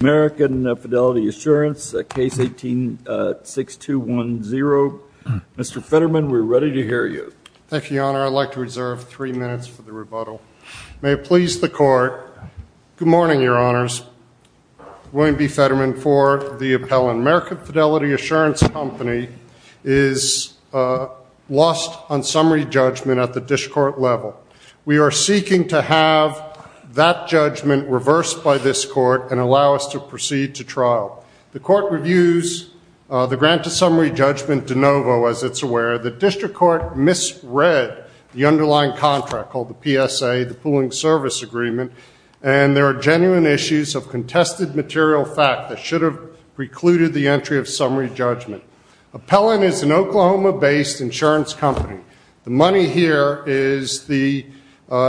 American Fidelity Assurance, case 18-6210. Mr. Fetterman, we're ready to hear you. Thank you, Your Honor. I'd like to reserve three minutes for the rebuttal. May it please the Court, good morning, Your Honors. William B. Fetterman for the appellant. American Fidelity Assurance Company is lost on summary judgment at the dishcourt level. We are seeking to have that judgment reversed by this Court and allow us to proceed to trial. The Court reviews the grant to summary judgment de novo, as it's aware. The district court misread the underlying contract called the PSA, the pooling service agreement, and there are genuine issues of contested material fact that should have precluded the entry of summary judgment. Appellant is an Oklahoma-based insurance company. The money here is the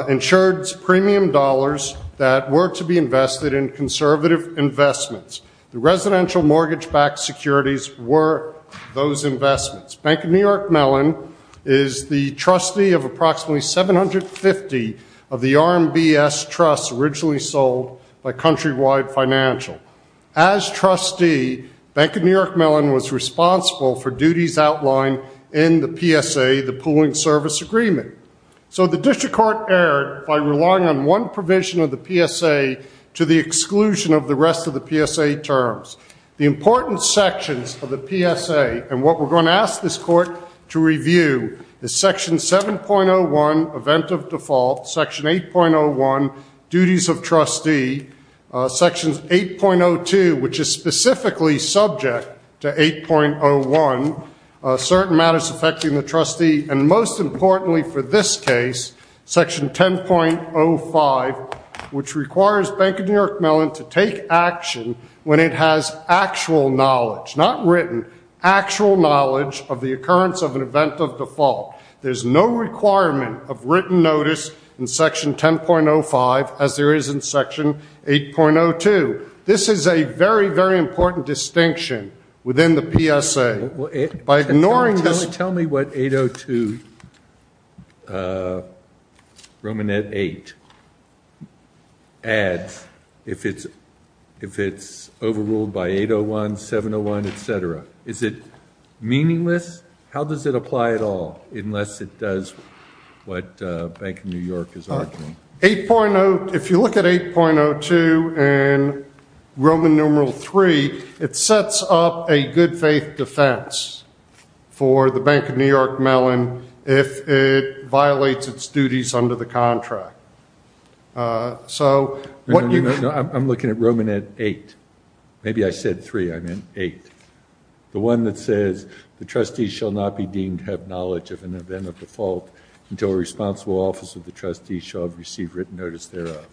insurance premium dollars that were to be invested in conservative investments. The residential mortgage-backed securities were those investments. Bank of New York Mellon is the trustee of approximately 750 of the RMBS trusts originally sold by Countrywide Financial. As trustee, Bank of New York Mellon was responsible for duties outlined in the PSA, the pooling service agreement. So the district court erred by relying on one provision of the PSA to the exclusion of the rest of the PSA terms. The important sections of the PSA and what we're going to ask this Court to review is section 7.01, event of default, section 8.01, duties of trustee, section 8.02, which is specifically subject to 8.01, certain matters affecting the trustee, and most importantly for this case, section 10.05, which requires Bank of New York Mellon to take action when it has actual knowledge, not written, actual knowledge of the occurrence of an event of default. There's no requirement of written notice in section 10.05 as there is in section 8.02. This is a very, very important distinction within the PSA. By ignoring this... Tell me what 8.02, Romanette 8, adds if it's overruled by 8.01, 7.01, etc. Is it meaningless? How does it apply at all unless it does what Bank of New York is arguing? If you look at 8.02 and Roman numeral 3, it sets up a good faith defense for the Bank of New York Mellon if it violates its duties under the contract. I'm looking at Romanette 8. Maybe I said 3, I meant 8. The one that says the trustees shall not be deemed to have knowledge of an event of default until a responsible office of the trustee shall have received written notice thereof.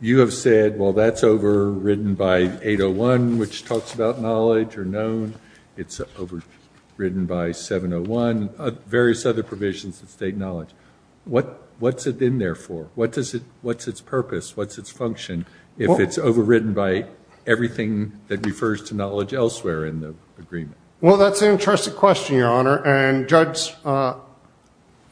You have said, well, that's overridden by 8.01, which talks about knowledge or known. It's overridden by 7.01, various other provisions that state knowledge. What's it in there for? What's its purpose? What's its function if it's overridden by everything that refers to knowledge elsewhere in the agreement? Well, that's an interesting question, Your Honor, and judges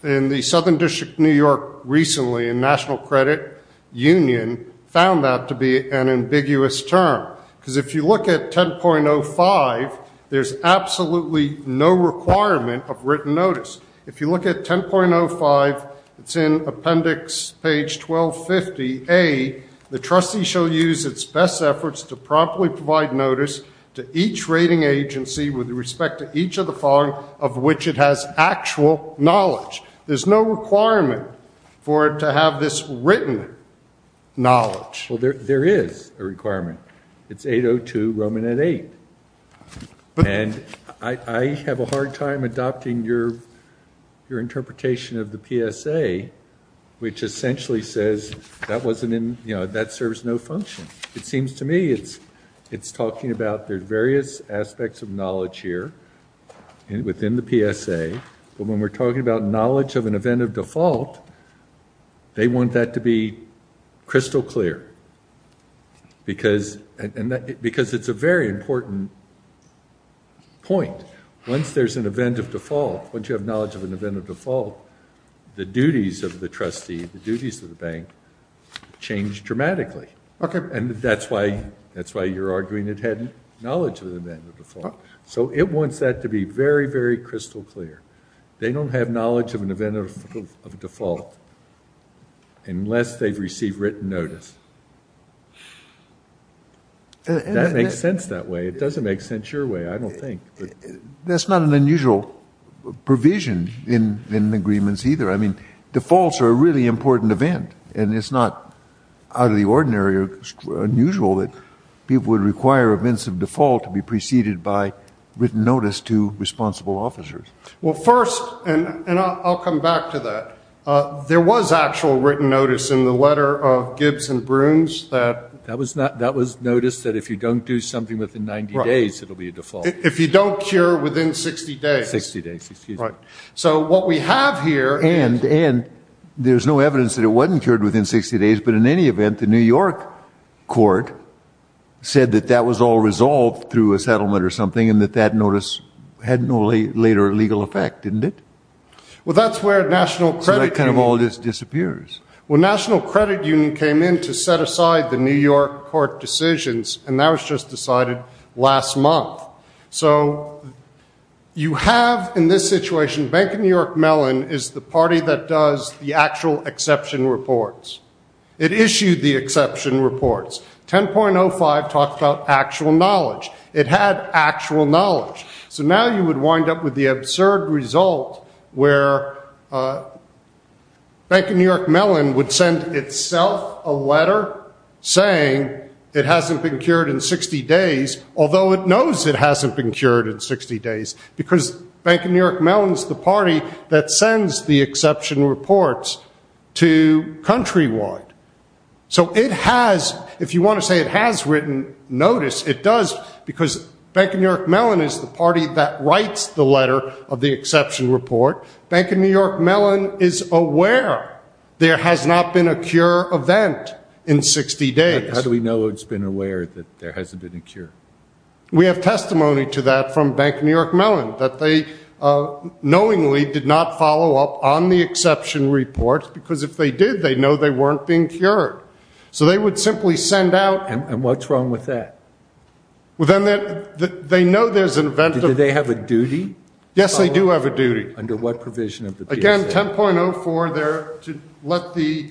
in the Southern District of New York recently in National Credit Union found that to be an ambiguous term. Because if you look at 10.05, there's absolutely no requirement of written notice. If you look at 10.05, it's in appendix page 1250A, the trustee shall use its best efforts to promptly provide notice to each rating agency with respect to each of the following of which it has actual knowledge. There's no requirement for it to have this written knowledge. Well, there is a requirement. It's 8.02 Romanette 8. And I have a hard time adopting your interpretation of the PSA, which essentially says that wasn't in, you know, that serves no function. It is talking about the various aspects of knowledge here within the PSA. But when we're talking about knowledge of an event of default, they want that to be crystal clear. Because it's a very important point. Once there's an event of default, once you have knowledge of an event of default, the duties of the trustee, the duties of the bank change dramatically. And that's why you're arguing it had knowledge of the event of default. So it wants that to be very, very crystal clear. They don't have knowledge of an event of default unless they've received written notice. That makes sense that way. It doesn't make sense your way, I don't think. That's not an unusual provision in agreements either. I mean, defaults are a really important event. And it's not out of the ordinary or unusual that people would require events of default to be preceded by written notice to responsible officers. Well first, and I'll come back to that. There was actual written notice in the letter of Gibbs and Brunes that. That was notice that if you don't do something within 90 days, it'll be a default. If you don't cure within 60 days. 60 days, excuse me. So what we have here. And there's no evidence that it wasn't cured within 60 days, but in any event, the New York court said that that was all resolved through a settlement or something and that that notice had no later legal effect, didn't it? Well that's where National Credit Union. So that kind of all just disappears. Well National Credit Union came in to set aside the New York court decisions and that was just decided last month. So you have in this situation, Bank of New York Mellon is the party that does the actual exception reports. It issued the exception reports. 10.05 talked about actual knowledge. It had actual knowledge. So now you would wind up with the absurd result where Bank of New York Mellon would send itself a letter saying it hasn't been cured in 60 days, although it knows it hasn't been cured in 60 days. Because Bank of New York Mellon is the party that sends the exception reports to Countrywide. So it has, if you want to say it has written notice, it does because Bank of New York Mellon is the party that writes the letter of the exception report. Bank of New York Mellon is aware there has not been a cure event in 60 days. How do we know it's been aware that there hasn't been a cure? We have testimony to that from Bank of New York Mellon, that they knowingly did not follow up on the exception reports because if they did, they'd know they weren't being cured. So they would simply send out. And what's wrong with that? They know there's an event. Do they have a duty? Yes, they do have a duty. Under what provision? Again, 10.04, to let the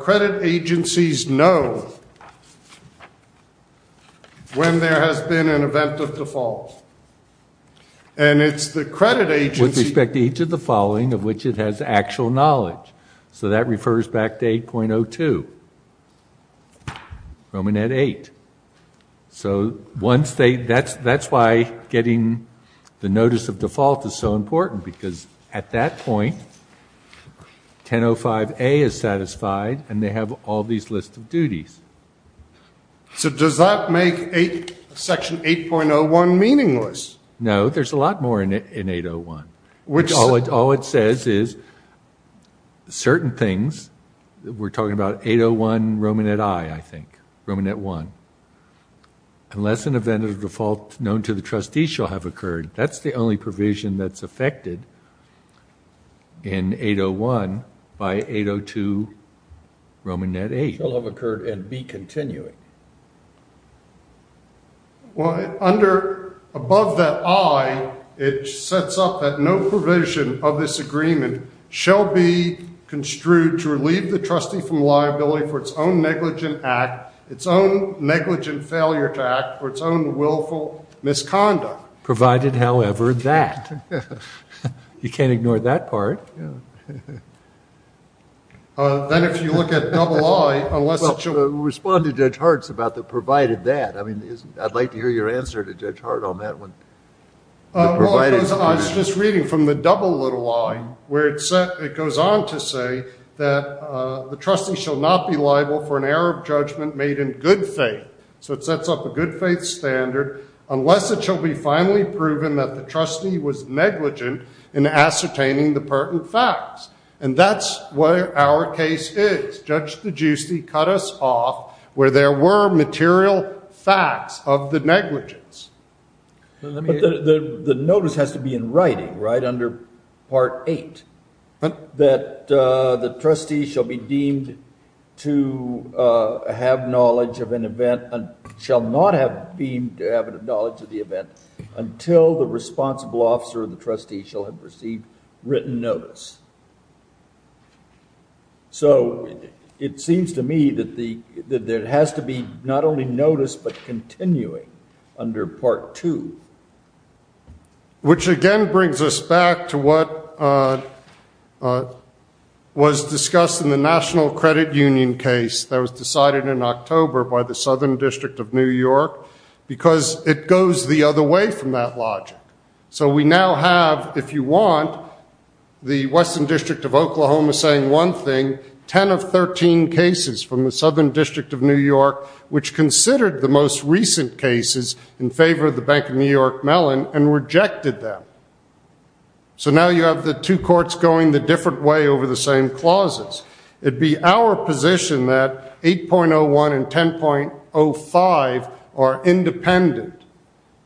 credit agencies know when there has been an event of default. And it's the credit agency. With respect to each of the following of which it has actual knowledge. So that refers back to 8.02, Romanette 8. So that's why getting the notice of default is so important because at that point, 10.05a is satisfied and they have all these lists of duties. So does that make section 8.01 meaningless? No, there's a lot more in 8.01. All it says is certain things. We're talking about 8.01, Romanette I, I think, Romanette I. Unless an event of default known to the trustees shall have occurred, that's the only provision that's affected in 8.01 by 8.02, Romanette VIII. Shall have occurred and be continuing. Well, under, above that I, it sets up that no provision of this agreement shall be construed to relieve the trustee from liability for its own negligent act, its own negligent failure to act, or its own willful misconduct. Provided however that. You can't ignore that part. Then if you look at double I, unless it shall. Well, respond to Judge Hart's about the provided that. I mean, I'd like to hear your answer to Judge Hart on that one. Well, I was just reading from the double little I, where it goes on to say that the trustee shall not be liable for an error of judgment made in good faith. So it sets up a good faith standard, unless it shall be finally proven that the trustee was negligent in ascertaining the pertinent facts. And that's where our case is. Judge DeGiusti cut us off where there were material facts of the negligence. But the notice has to be in writing, right, under part eight, that the trustee shall be deemed to have knowledge of an event and shall not have been to have a knowledge of the event until the responsible officer of the trustee shall have received written notice. So it seems to me that there has to be not only notice, but continuing under part two. Which again brings us back to what was discussed in the National Credit Union case that was decided in October by the Southern District of New York, because it goes the other way from that logic. So we now have, if you want, the Western District of Oklahoma saying one thing, 10 of 13 cases from the Southern District of New York which considered the most recent cases in favor of the Bank of New York Mellon and rejected them. So now you have the two courts going the different way over the same clauses. It'd be our position that 8.01 and 10.05 are independent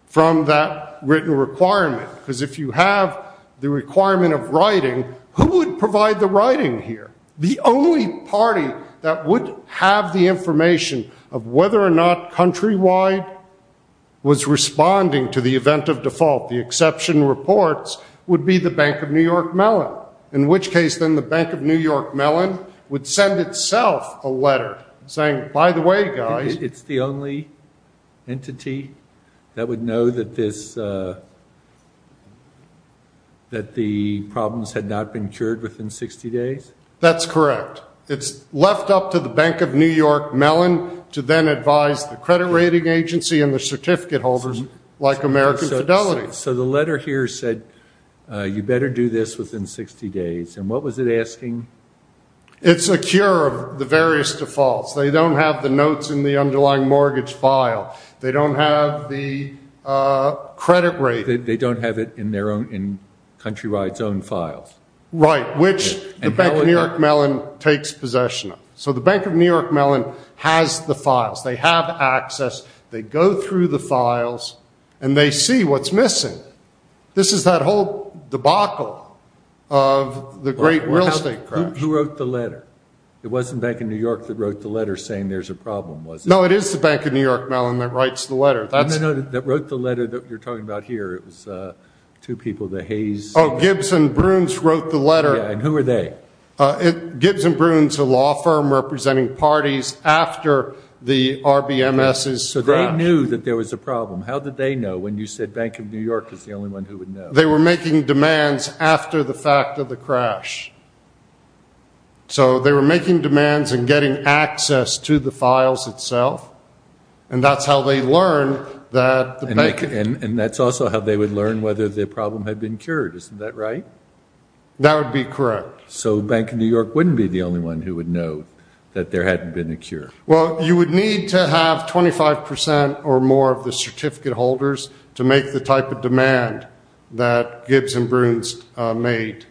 from that written requirement. Because if you have the requirement of writing, who would provide the writing here? The only party that would have the information of whether or not Countrywide was responding to the event of default, the exception reports, would be the Bank of New York Mellon. In which case then the Bank of New York Mellon would send itself a letter saying, by the way guys. It's the only entity that would know that this, that the problems had not been cured within 60 days? That's correct. It's left up to the Bank of New York Mellon to then advise the credit rating agency and the certificate holders like American Fidelity. So the letter here said, you better do this within 60 days and what was it asking? It's a cure of the various defaults. They don't have the notes in the underlying mortgage file. They don't have the credit rating. They don't have it in Countrywide's own files. Right. Which the Bank of New York Mellon takes possession of. So the Bank of New York Mellon has the files. They have access. They go through the files and they see what's missing. This is that whole debacle of the great real estate crash. Who wrote the letter? It wasn't Bank of New York that wrote the letter saying there's a problem, was it? No, it is the Bank of New York Mellon that writes the letter. No, no, no. That wrote the letter that you're talking about here. It was two people, the Hayes. Oh, Gibson Bruins wrote the letter. Yeah. And who are they? Gibson Bruins is a law firm representing parties after the RBMS's crash. So they knew that there was a problem. How did they know when you said Bank of New York is the only one who would know? They were making demands after the fact of the crash. So they were making demands and getting access to the files itself. And that's how they learned that the bank... And that's also how they would learn whether the problem had been cured, isn't that right? That would be correct. So Bank of New York wouldn't be the only one who would know that there hadn't been a cure. Well, you would need to have 25% or more of the certificate holders to make the type of demand that Gibson Bruins made.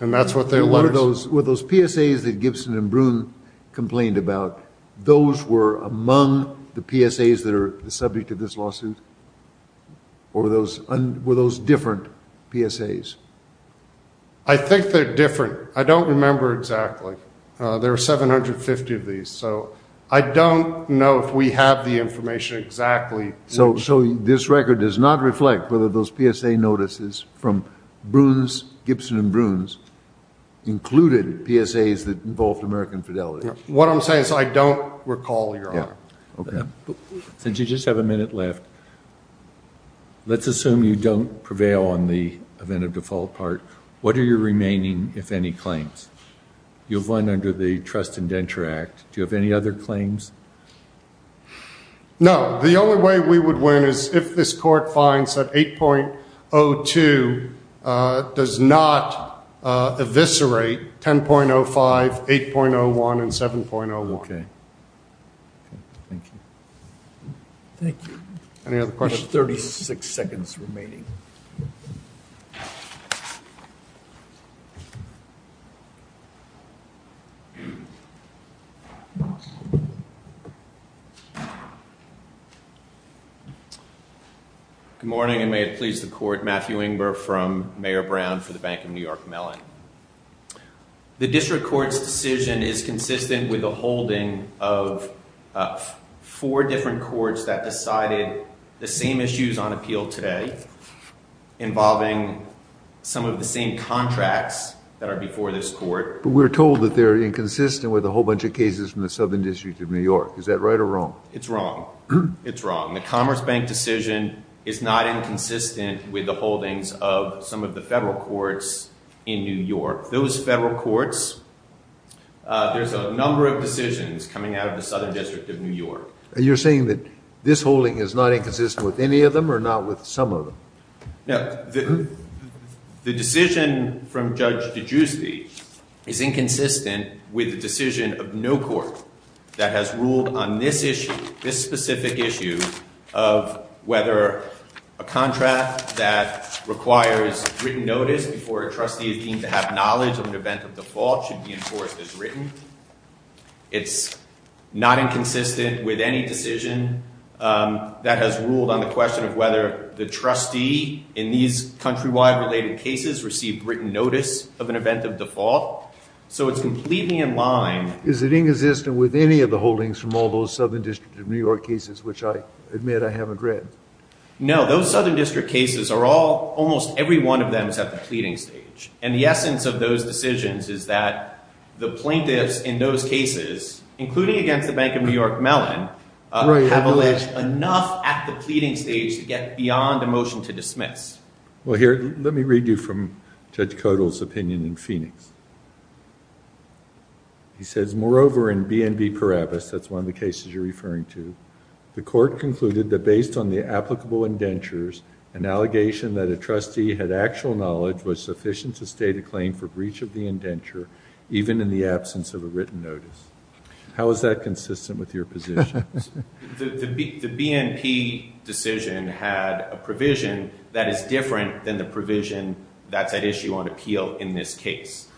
And that's what they learned. Were those PSAs that Gibson and Bruins complained about, those were among the PSAs that are subject to this lawsuit? Or were those different PSAs? I think they're different. I don't remember exactly. There are 750 of these. So I don't know if we have the information exactly. So this record does not reflect whether those PSA notices from Bruins, Gibson and Bruins, included PSAs that involved American Fidelity? What I'm saying is I don't recall, Your Honor. Since you just have a minute left, let's assume you don't prevail on the event of default part. What are your remaining, if any, claims? You've won under the Trust Indenture Act. Do you have any other claims? No. The only way we would win is if this Court finds that 8.02 does not eviscerate 10.05, 8.01, and 7.01. Okay. Thank you. Thank you. Any other questions? We have 36 seconds remaining. Good morning, and may it please the Court. Matthew Engber from Mayor Brown for the Bank of New York Mellon. The District Court's decision is consistent with the holding of four different courts that decided the same issues on appeal today involving some of the same contracts that are before this Court. But we're told that they're inconsistent with a whole bunch of cases from the Southern District of New York. Is that right or wrong? It's wrong. It's wrong. The Commerce Bank decision is not inconsistent with the holdings of some of the federal courts in New York. Those federal courts, there's a number of decisions coming out of the Southern District of New York. You're saying that this holding is not inconsistent with any of them or not with some of them? No. The decision from Judge DeGiusti is inconsistent with the decision of no court that has ruled on this issue, this specific issue of whether a contract that requires written notice before a trustee is deemed to have knowledge of an event of default should be enforced as written. It's not inconsistent with any decision that has ruled on the question of whether the trustee in these countrywide related cases received written notice of an event of default. So it's completely in line. Is it inconsistent with any of the holdings from all those Southern District of New York cases, which I admit I haven't read? No. Those Southern District cases are all, almost every one of them is at the pleading stage. And the essence of those decisions is that the plaintiffs in those cases, including against the Bank of New York Mellon, have alleged enough at the pleading stage to get beyond a motion to dismiss. Well, here, let me read you from Judge Codall's opinion in Phoenix. He says, moreover, in B&B Parabis, that's one of the cases you're referring to, the court concluded that based on the applicable indentures, an allegation that a trustee had actual knowledge was sufficient to state a claim for breach of the indenture, even in the absence of a written notice. How is that consistent with your position? The B&P decision had a provision that is different than the provision that's at issue on appeal in this case.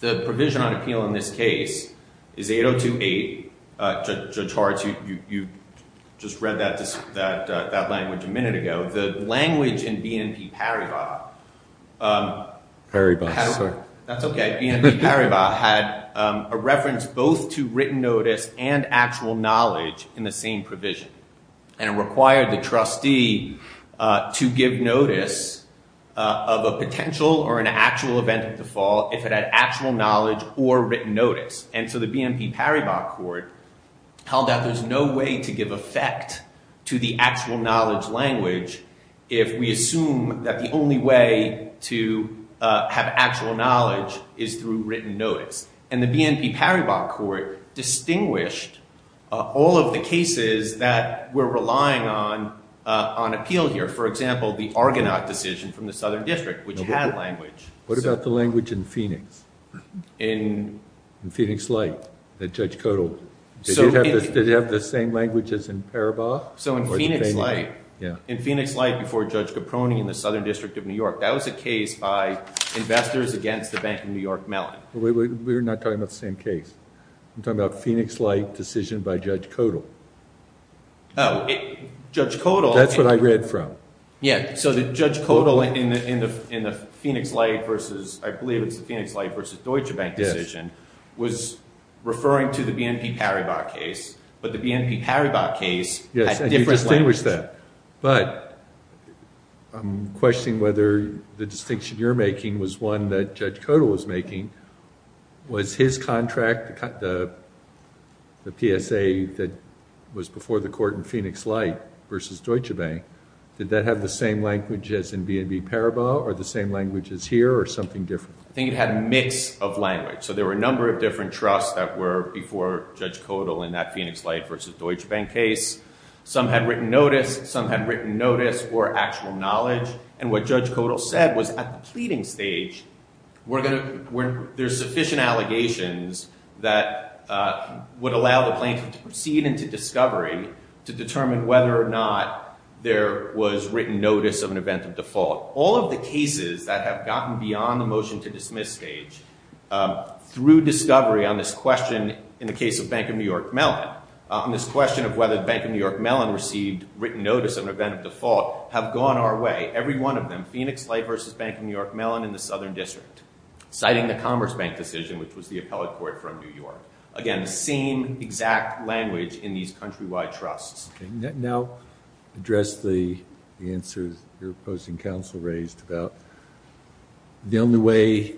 The provision on appeal in this case is 8028. Judge Hart, you just read that language a minute ago. The language in B&P Paribas. Paribas, sorry. That's okay. B&P Paribas had a reference both to written notice and actual knowledge in the same provision. And it required the trustee to give notice of a potential or an actual event of default if it had actual knowledge or written notice. And so the B&P Paribas court held that there's no way to give effect to the actual knowledge language if we assume that the only way to have actual knowledge is through written notice. And the B&P Paribas court distinguished all of the cases that we're relying on appeal here. For example, the Argonaut decision from the Southern District, which had language. What about the language in Phoenix? In? In Phoenix Light that Judge Kotel, did it have the same language as in Paribas? So in Phoenix Light, in Phoenix Light before Judge Caproni in the Southern District of New York, that was a case by Investors Against the Bank of New York Mellon. We're not talking about the same case. I'm talking about Phoenix Light decision by Judge Kotel. Oh, Judge Kotel. That's what I read from. Yeah, so Judge Kotel in the Phoenix Light versus, I believe it's the Phoenix Light versus Deutsche Bank decision, was referring to the B&P Paribas case. But the B&P Paribas case had different language. Yes, and you distinguished that. But I'm questioning whether the distinction you're making was one that Judge Kotel was making. Was his contract, the PSA that was before the court in Phoenix Light versus Deutsche Bank, did that have the same language as in B&P Paribas or the same language as here or something different? I think it had a mix of language. So there were a number of different trusts that were before Judge Kotel in that Phoenix Light versus Deutsche Bank case. Some had written notice. Some had written notice or actual knowledge. And what Judge Kotel said was at the pleading stage, there's sufficient allegations that would allow the plaintiff to proceed into discovery to determine whether or not there was written notice of an event of default. All of the cases that have gotten beyond the motion to dismiss stage through discovery on this question in the case of Bank of New York Mellon, on this question of whether Bank of New York Mellon received written notice of an event of default, have gone our way. Every one of them, Phoenix Light versus Bank of New York Mellon in the Southern District, citing the Commerce Bank decision, which was the appellate court from New York. Again, the same exact language in these countrywide trusts. Now address the answers your opposing counsel raised about the only way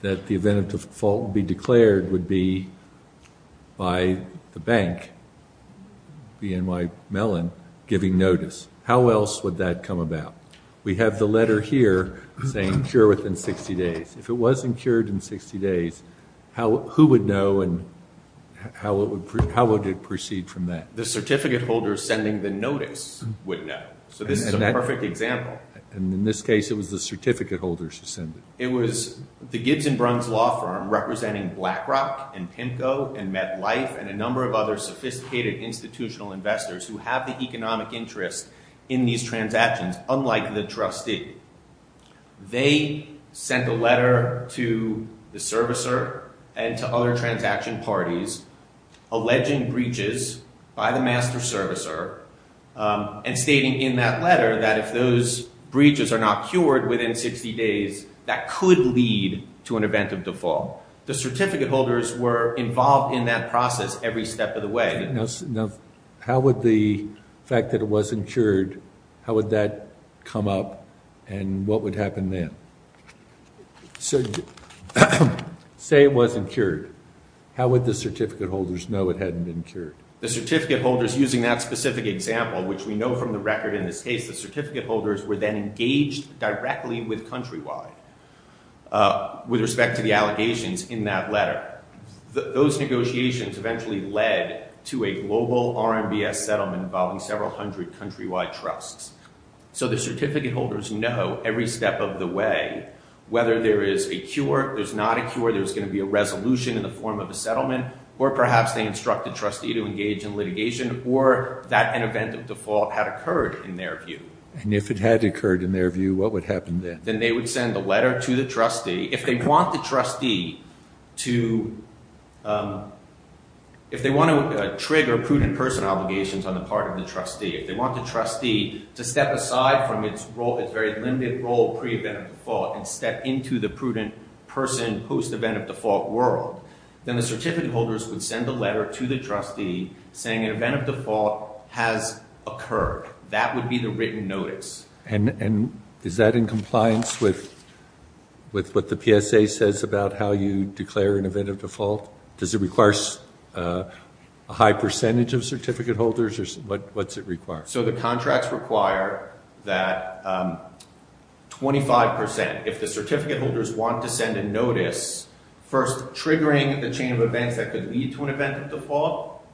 that the event of default would be declared would be by the bank, BNY Mellon, giving notice. How else would that come about? We have the letter here saying cure within 60 days. If it wasn't cured in 60 days, who would know and how would it proceed from that? The certificate holders sending the notice would know. This is a perfect example. In this case, it was the certificate holders who sent it. It was the Gibbs and Bruns law firm representing BlackRock and PIMCO and MetLife and a number of other sophisticated institutional investors who have the economic interest in these transactions, unlike the trustee. They sent a letter to the servicer and to other transaction parties alleging breaches by the master servicer and stating in that letter that if those breaches are not cured within 60 days, that could lead to an event of default. The certificate holders were involved in that process every step of the way. Now how would the fact that it wasn't cured, how would that come up and what would happen then? So say it wasn't cured. How would the certificate holders know it hadn't been cured? The certificate holders using that specific example, which we know from the record in this case, the certificate holders were then engaged directly with Countrywide with respect to the allegations in that letter. Those negotiations eventually led to a global RMBS settlement involving several hundred Countrywide trusts. So the certificate holders know every step of the way whether there is a cure, there's not a cure, there's going to be a resolution in the form of a settlement or perhaps they instruct the trustee to engage in litigation or that an event of default had occurred in their view. And if it had occurred in their view, what would happen then? Then they would send a letter to the trustee. If they want the trustee to, if they want to trigger prudent personal allegations on the part of the trustee, if they want the trustee to step aside from its role, its very limited role pre-event of default and step into the prudent person post-event of default world, then the certificate holders would send a letter to the trustee saying an event of default has occurred. That would be the written notice. And is that in compliance with what the PSA says about how you declare an event of default? Does it require a high percentage of certificate holders or what's it require? So the contracts require that 25%, if the certificate holders want to send a notice, first triggering the chain of events that could lead to an event of default,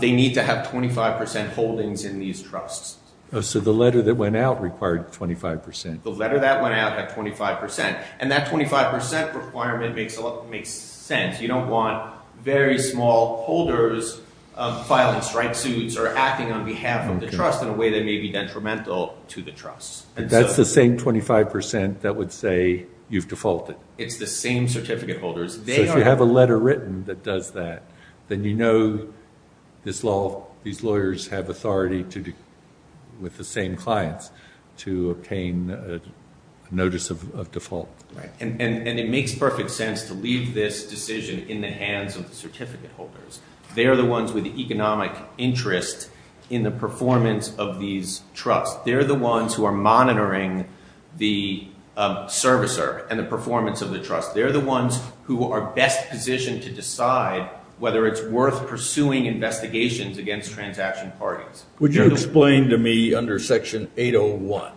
they need to have 25% holdings in these trusts. So the letter that went out required 25%. The letter that went out had 25%. And that 25% requirement makes sense. You don't want very small holders filing strike suits or acting on behalf of the trust in a way that may be detrimental to the trust. That's the same 25% that would say you've defaulted. It's the same certificate holders. So if you have a letter written that does that, then you know these lawyers have authority with the same clients to obtain a notice of default. Right. And it makes perfect sense to leave this decision in the hands of the certificate holders. They are the ones with the economic interest in the performance of these trusts. They are the ones who are monitoring the servicer and the performance of the trust. They are the ones who are best positioned to decide whether it's worth pursuing investigations against transaction parties. Would you explain to me under Section 801,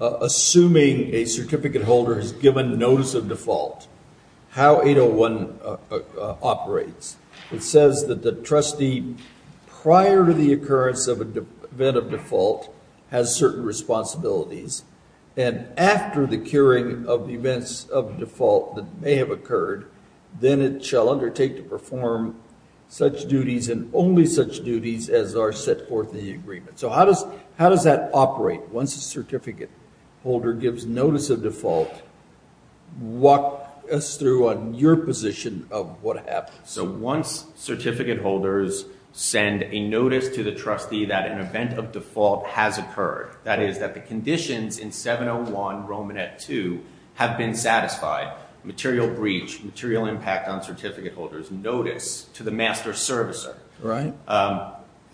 assuming a certificate holder has given notice of default, how 801 operates? It says that the trustee prior to the occurrence of an event of default has certain responsibilities. And after the curing of the events of default that may have occurred, then it shall undertake to perform such duties and only such duties as are set forth in the agreement. So how does that operate? Once a certificate holder gives notice of default, walk us through on your position of what happens. So once certificate holders send a notice to the trustee that an event of default has occurred, that is that the conditions in 701 Romanet 2 have been satisfied, the trustee gives the certificate holder's notice to the master servicer,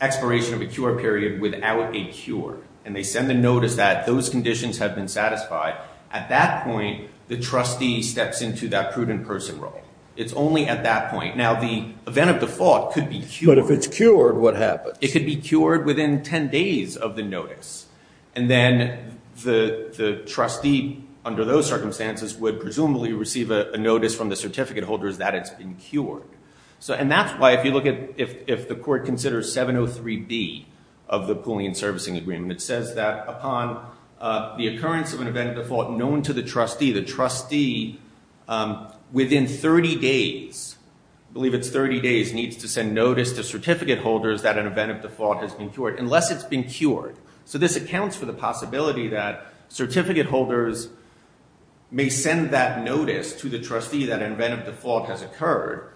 expiration of a cure period without a cure. And they send the notice that those conditions have been satisfied. At that point, the trustee steps into that prudent person role. It's only at that point. Now, the event of default could be cured. But if it's cured, what happens? It could be cured within 10 days of the notice. And then the trustee under those circumstances would presumably receive a notice to the certificate holders that it's been cured. And that's why if you look at if the court considers 703B of the pooling and servicing agreement, it says that upon the occurrence of an event of default known to the trustee, the trustee within 30 days, I believe it's 30 days, needs to send notice to certificate holders that an event of default has been cured unless it's been cured. So this accounts for the possibility that certificate holders may send that notice that an event of default has occurred.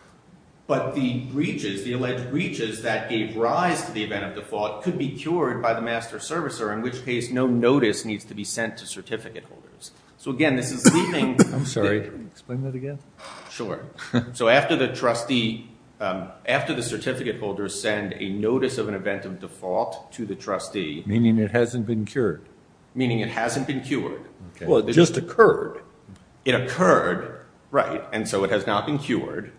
But the breaches, the alleged breaches that gave rise to the event of default could be cured by the master servicer, in which case no notice needs to be sent to certificate holders. So, again, this is leaving the – I'm sorry. Can you explain that again? Sure. So after the trustee, after the certificate holders send a notice of an event of default to the trustee – Meaning it hasn't been cured. Meaning it hasn't been cured. Well, it just occurred. It occurred, right. And so it has not been cured.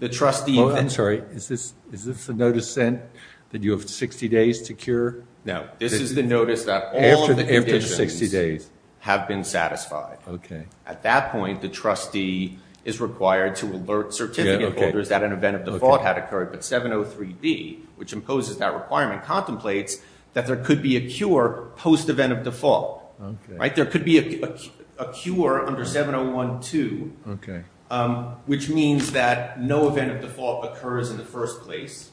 The trustee – Oh, I'm sorry. Is this a notice sent that you have 60 days to cure? No. This is the notice that all of the conditions have been satisfied. Okay. At that point, the trustee is required to alert certificate holders that an event of default had occurred. But 703B, which imposes that requirement, contemplates that there could be a cure post-event of default. Okay. Right? There could be a cure under 701.2, which means that no event of default occurs in the first place.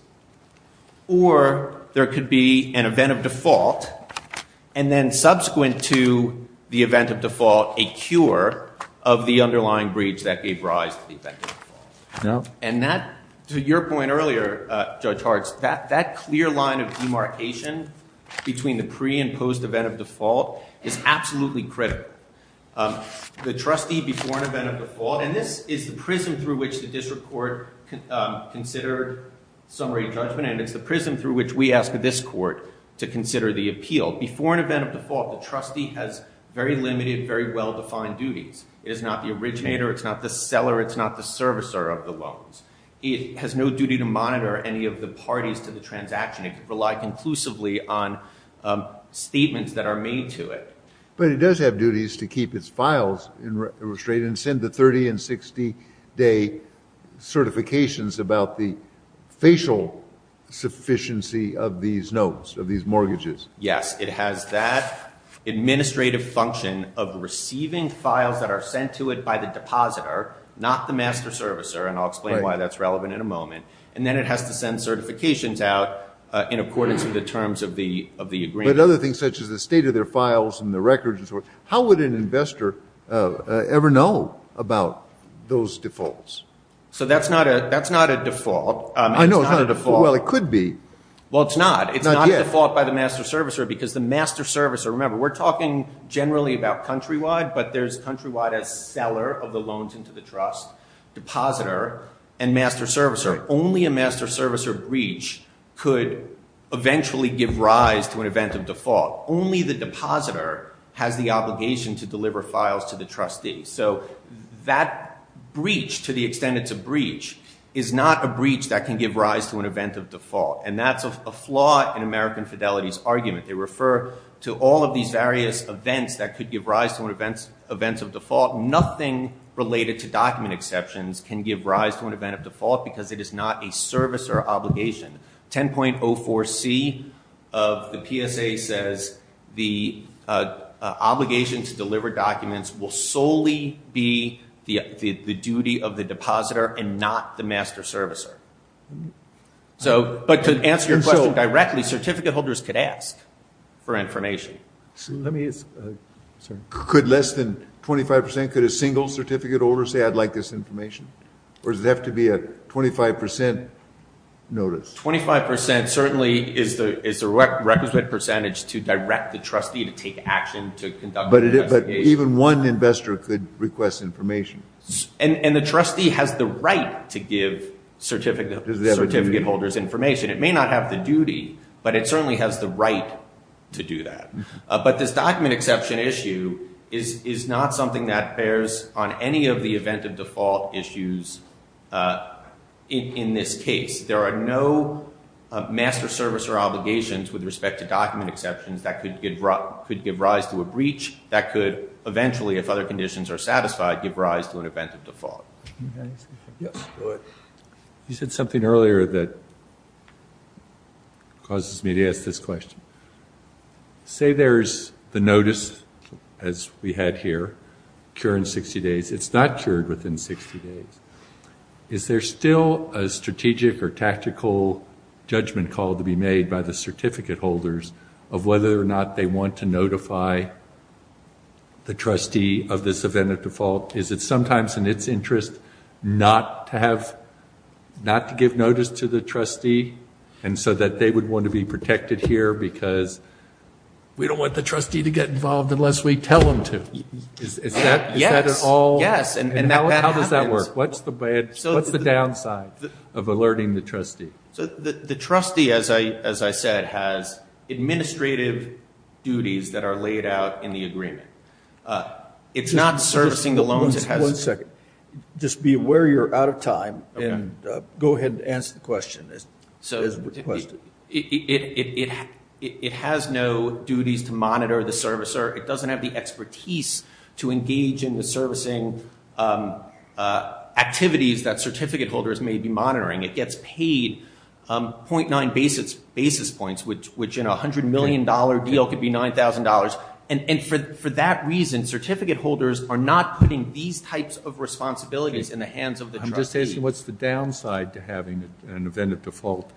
Or there could be an event of default, and then subsequent to the event of default, a cure of the underlying breach that gave rise to the event of default. And that, to your point earlier, Judge Hartz, that clear line of demarcation between the pre- and post-event of default is absolutely critical. The trustee, before an event of default – and this is the prism through which the district court considered summary judgment, and it's the prism through which we ask this court to consider the appeal. Before an event of default, the trustee has very limited, very well-defined duties. It is not the originator, it's not the seller, it's not the servicer of the loans. It has no duty to monitor any of the parties to the transaction. It can rely conclusively on statements that are made to it. But it does have duties to keep its files in restraint and send the 30- and 60-day certifications about the facial sufficiency of these loans, of these mortgages. Yes. It has that administrative function of receiving files that are sent to it by the depositor, not the master servicer, and I'll explain why that's relevant in a moment. And then it has to send certifications out in accordance with the terms of the agreement. But other things such as the state of their files and the records and so forth, how would an investor ever know about those defaults? So that's not a default. I know, it's not a default. Well, it could be. Well, it's not. Not yet. It's not a default by the master servicer because the master servicer – remember, we're talking generally about countrywide, but there's countrywide as seller of the loans into the trust, depositor, and master servicer. Only a master servicer breach could eventually give rise to an event of default. Only the depositor has the obligation to deliver files to the trustee. So that breach, to the extent it's a breach, is not a breach that can give rise to an event of default, and that's a flaw in American Fidelity's argument. They refer to all of these various events that could give rise to an event of default. Nothing related to document exceptions can give rise to an event of default because it is not a servicer obligation. 10.04c of the PSA says the obligation to deliver documents will solely be the duty of the depositor and not the master servicer. But to answer your question directly, certificate holders could ask for information. Could less than 25%, could a single certificate holder say, I'd like this information? Or does it have to be a 25% notice? 25% certainly is the requisite percentage to direct the trustee to take action, to conduct an investigation. But even one investor could request information. And the trustee has the right to give certificate holders information. It may not have the duty, but it certainly has the right to do that. But this document exception issue is not something that bears on any of the event of default issues in this case. There are no master servicer obligations with respect to document exceptions that could give rise to a breach that could eventually, if other conditions are satisfied, give rise to an event of default. You said something earlier that causes me to ask this question. Say there's the notice, as we had here, cured in 60 days. It's not cured within 60 days. Is there still a strategic or tactical judgment call to be made by the certificate holders of whether or not they want to notify the trustee of this event of default? Is it sometimes in its interest not to give notice to the trustee, and so that they would want to be protected here because we don't want the trustee to get involved unless we tell them to? Is that at all? Yes. And that happens. How does that work? What's the downside of alerting the trustee? The trustee, as I said, has administrative duties that are laid out in the agreement. It's not servicing the loans it has. One second. Just be aware you're out of time and go ahead and answer the question. It has no duties to monitor the servicer. It doesn't have the expertise to engage in the servicing activities that certificate holders may be monitoring. It gets paid .9 basis points, which in a $100 million deal could be $9,000. And for that reason, certificate holders are not putting these types of responsibilities in the hands of the trustee. What's the downside to having an event of default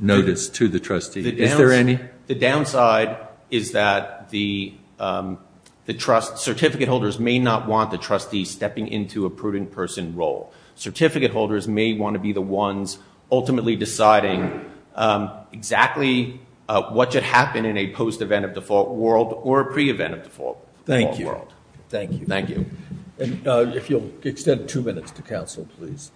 notice to the trustee? Is there any? The downside is that the certificate holders may not want the trustee stepping into a prudent person role. Certificate holders may want to be the ones ultimately deciding exactly what should happen in a post-event of default world or pre-event of default world. Thank you. Thank you. Thank you. If you'll extend two minutes to counsel, please.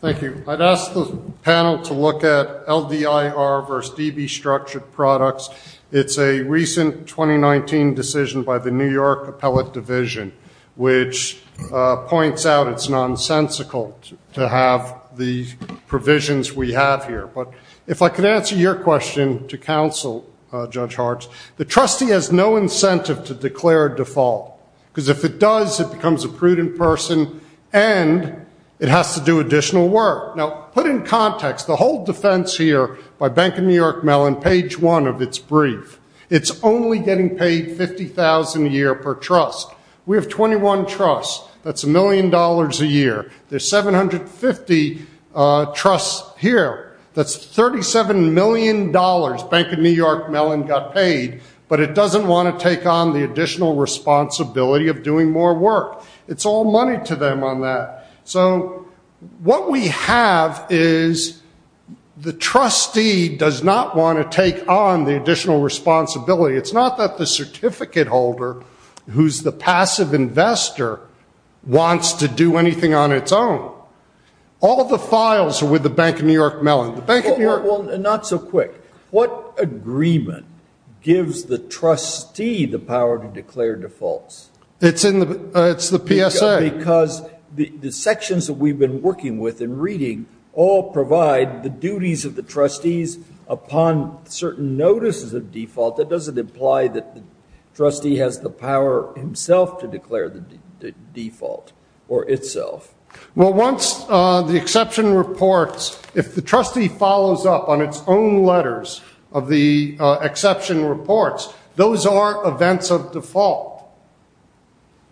Thank you. I'd ask the panel to look at LDIR versus DB structured products. It's a recent 2019 decision by the New York Appellate Division, which points out it's nonsensical to have the provisions we have here. But if I could answer your question to counsel, Judge Hartz, the trustee has no incentive to declare default. Because if it does, it becomes a prudent person, and it has to do additional work. Now, put in context, the whole defense here by Bank of New York Mellon, page one of its brief, it's only getting paid $50,000 a year per trust. We have 21 trusts. That's a million dollars a year. There's 750 trusts here. That's $37 million Bank of New York Mellon got paid, but it doesn't want to take on the additional responsibility of doing more work. It's all money to them on that. So what we have is the trustee does not want to take on the additional responsibility. It's not that the certificate holder, who's the passive investor, wants to do anything on its own. All of the files are with the Bank of New York Mellon. Well, not so quick. What agreement gives the trustee the power to declare defaults? It's the PSA. Because the sections that we've been working with and reading all provide the duties of the trustees upon certain notices of default. That doesn't imply that the trustee has the power himself to declare the default or itself. Well, once the exception reports, if the trustee follows up on its own letters of the exception reports, those are events of default.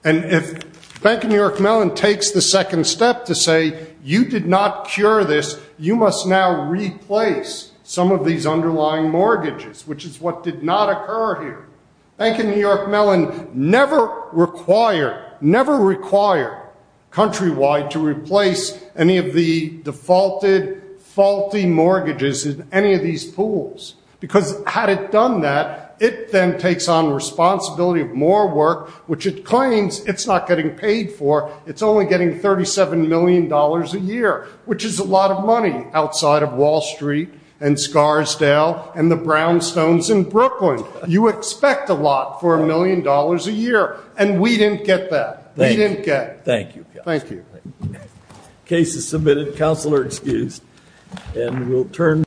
And if Bank of New York Mellon takes the second step to say, you did not cure this, you must now replace some of these underlying mortgages, which is what did not occur here. Bank of New York Mellon never required, never required, countrywide, to replace any of the defaulted, faulty mortgages in any of these pools. Because had it done that, it then takes on responsibility of more work, which it claims it's not getting paid for. It's only getting $37 million a year, which is a lot of money outside of Wall Street and Scarsdale and the brownstones in Brooklyn. You expect a lot for a million dollars a year. And we didn't get that. We didn't get it. Thank you. Thank you. Case is submitted. Counsel are excused.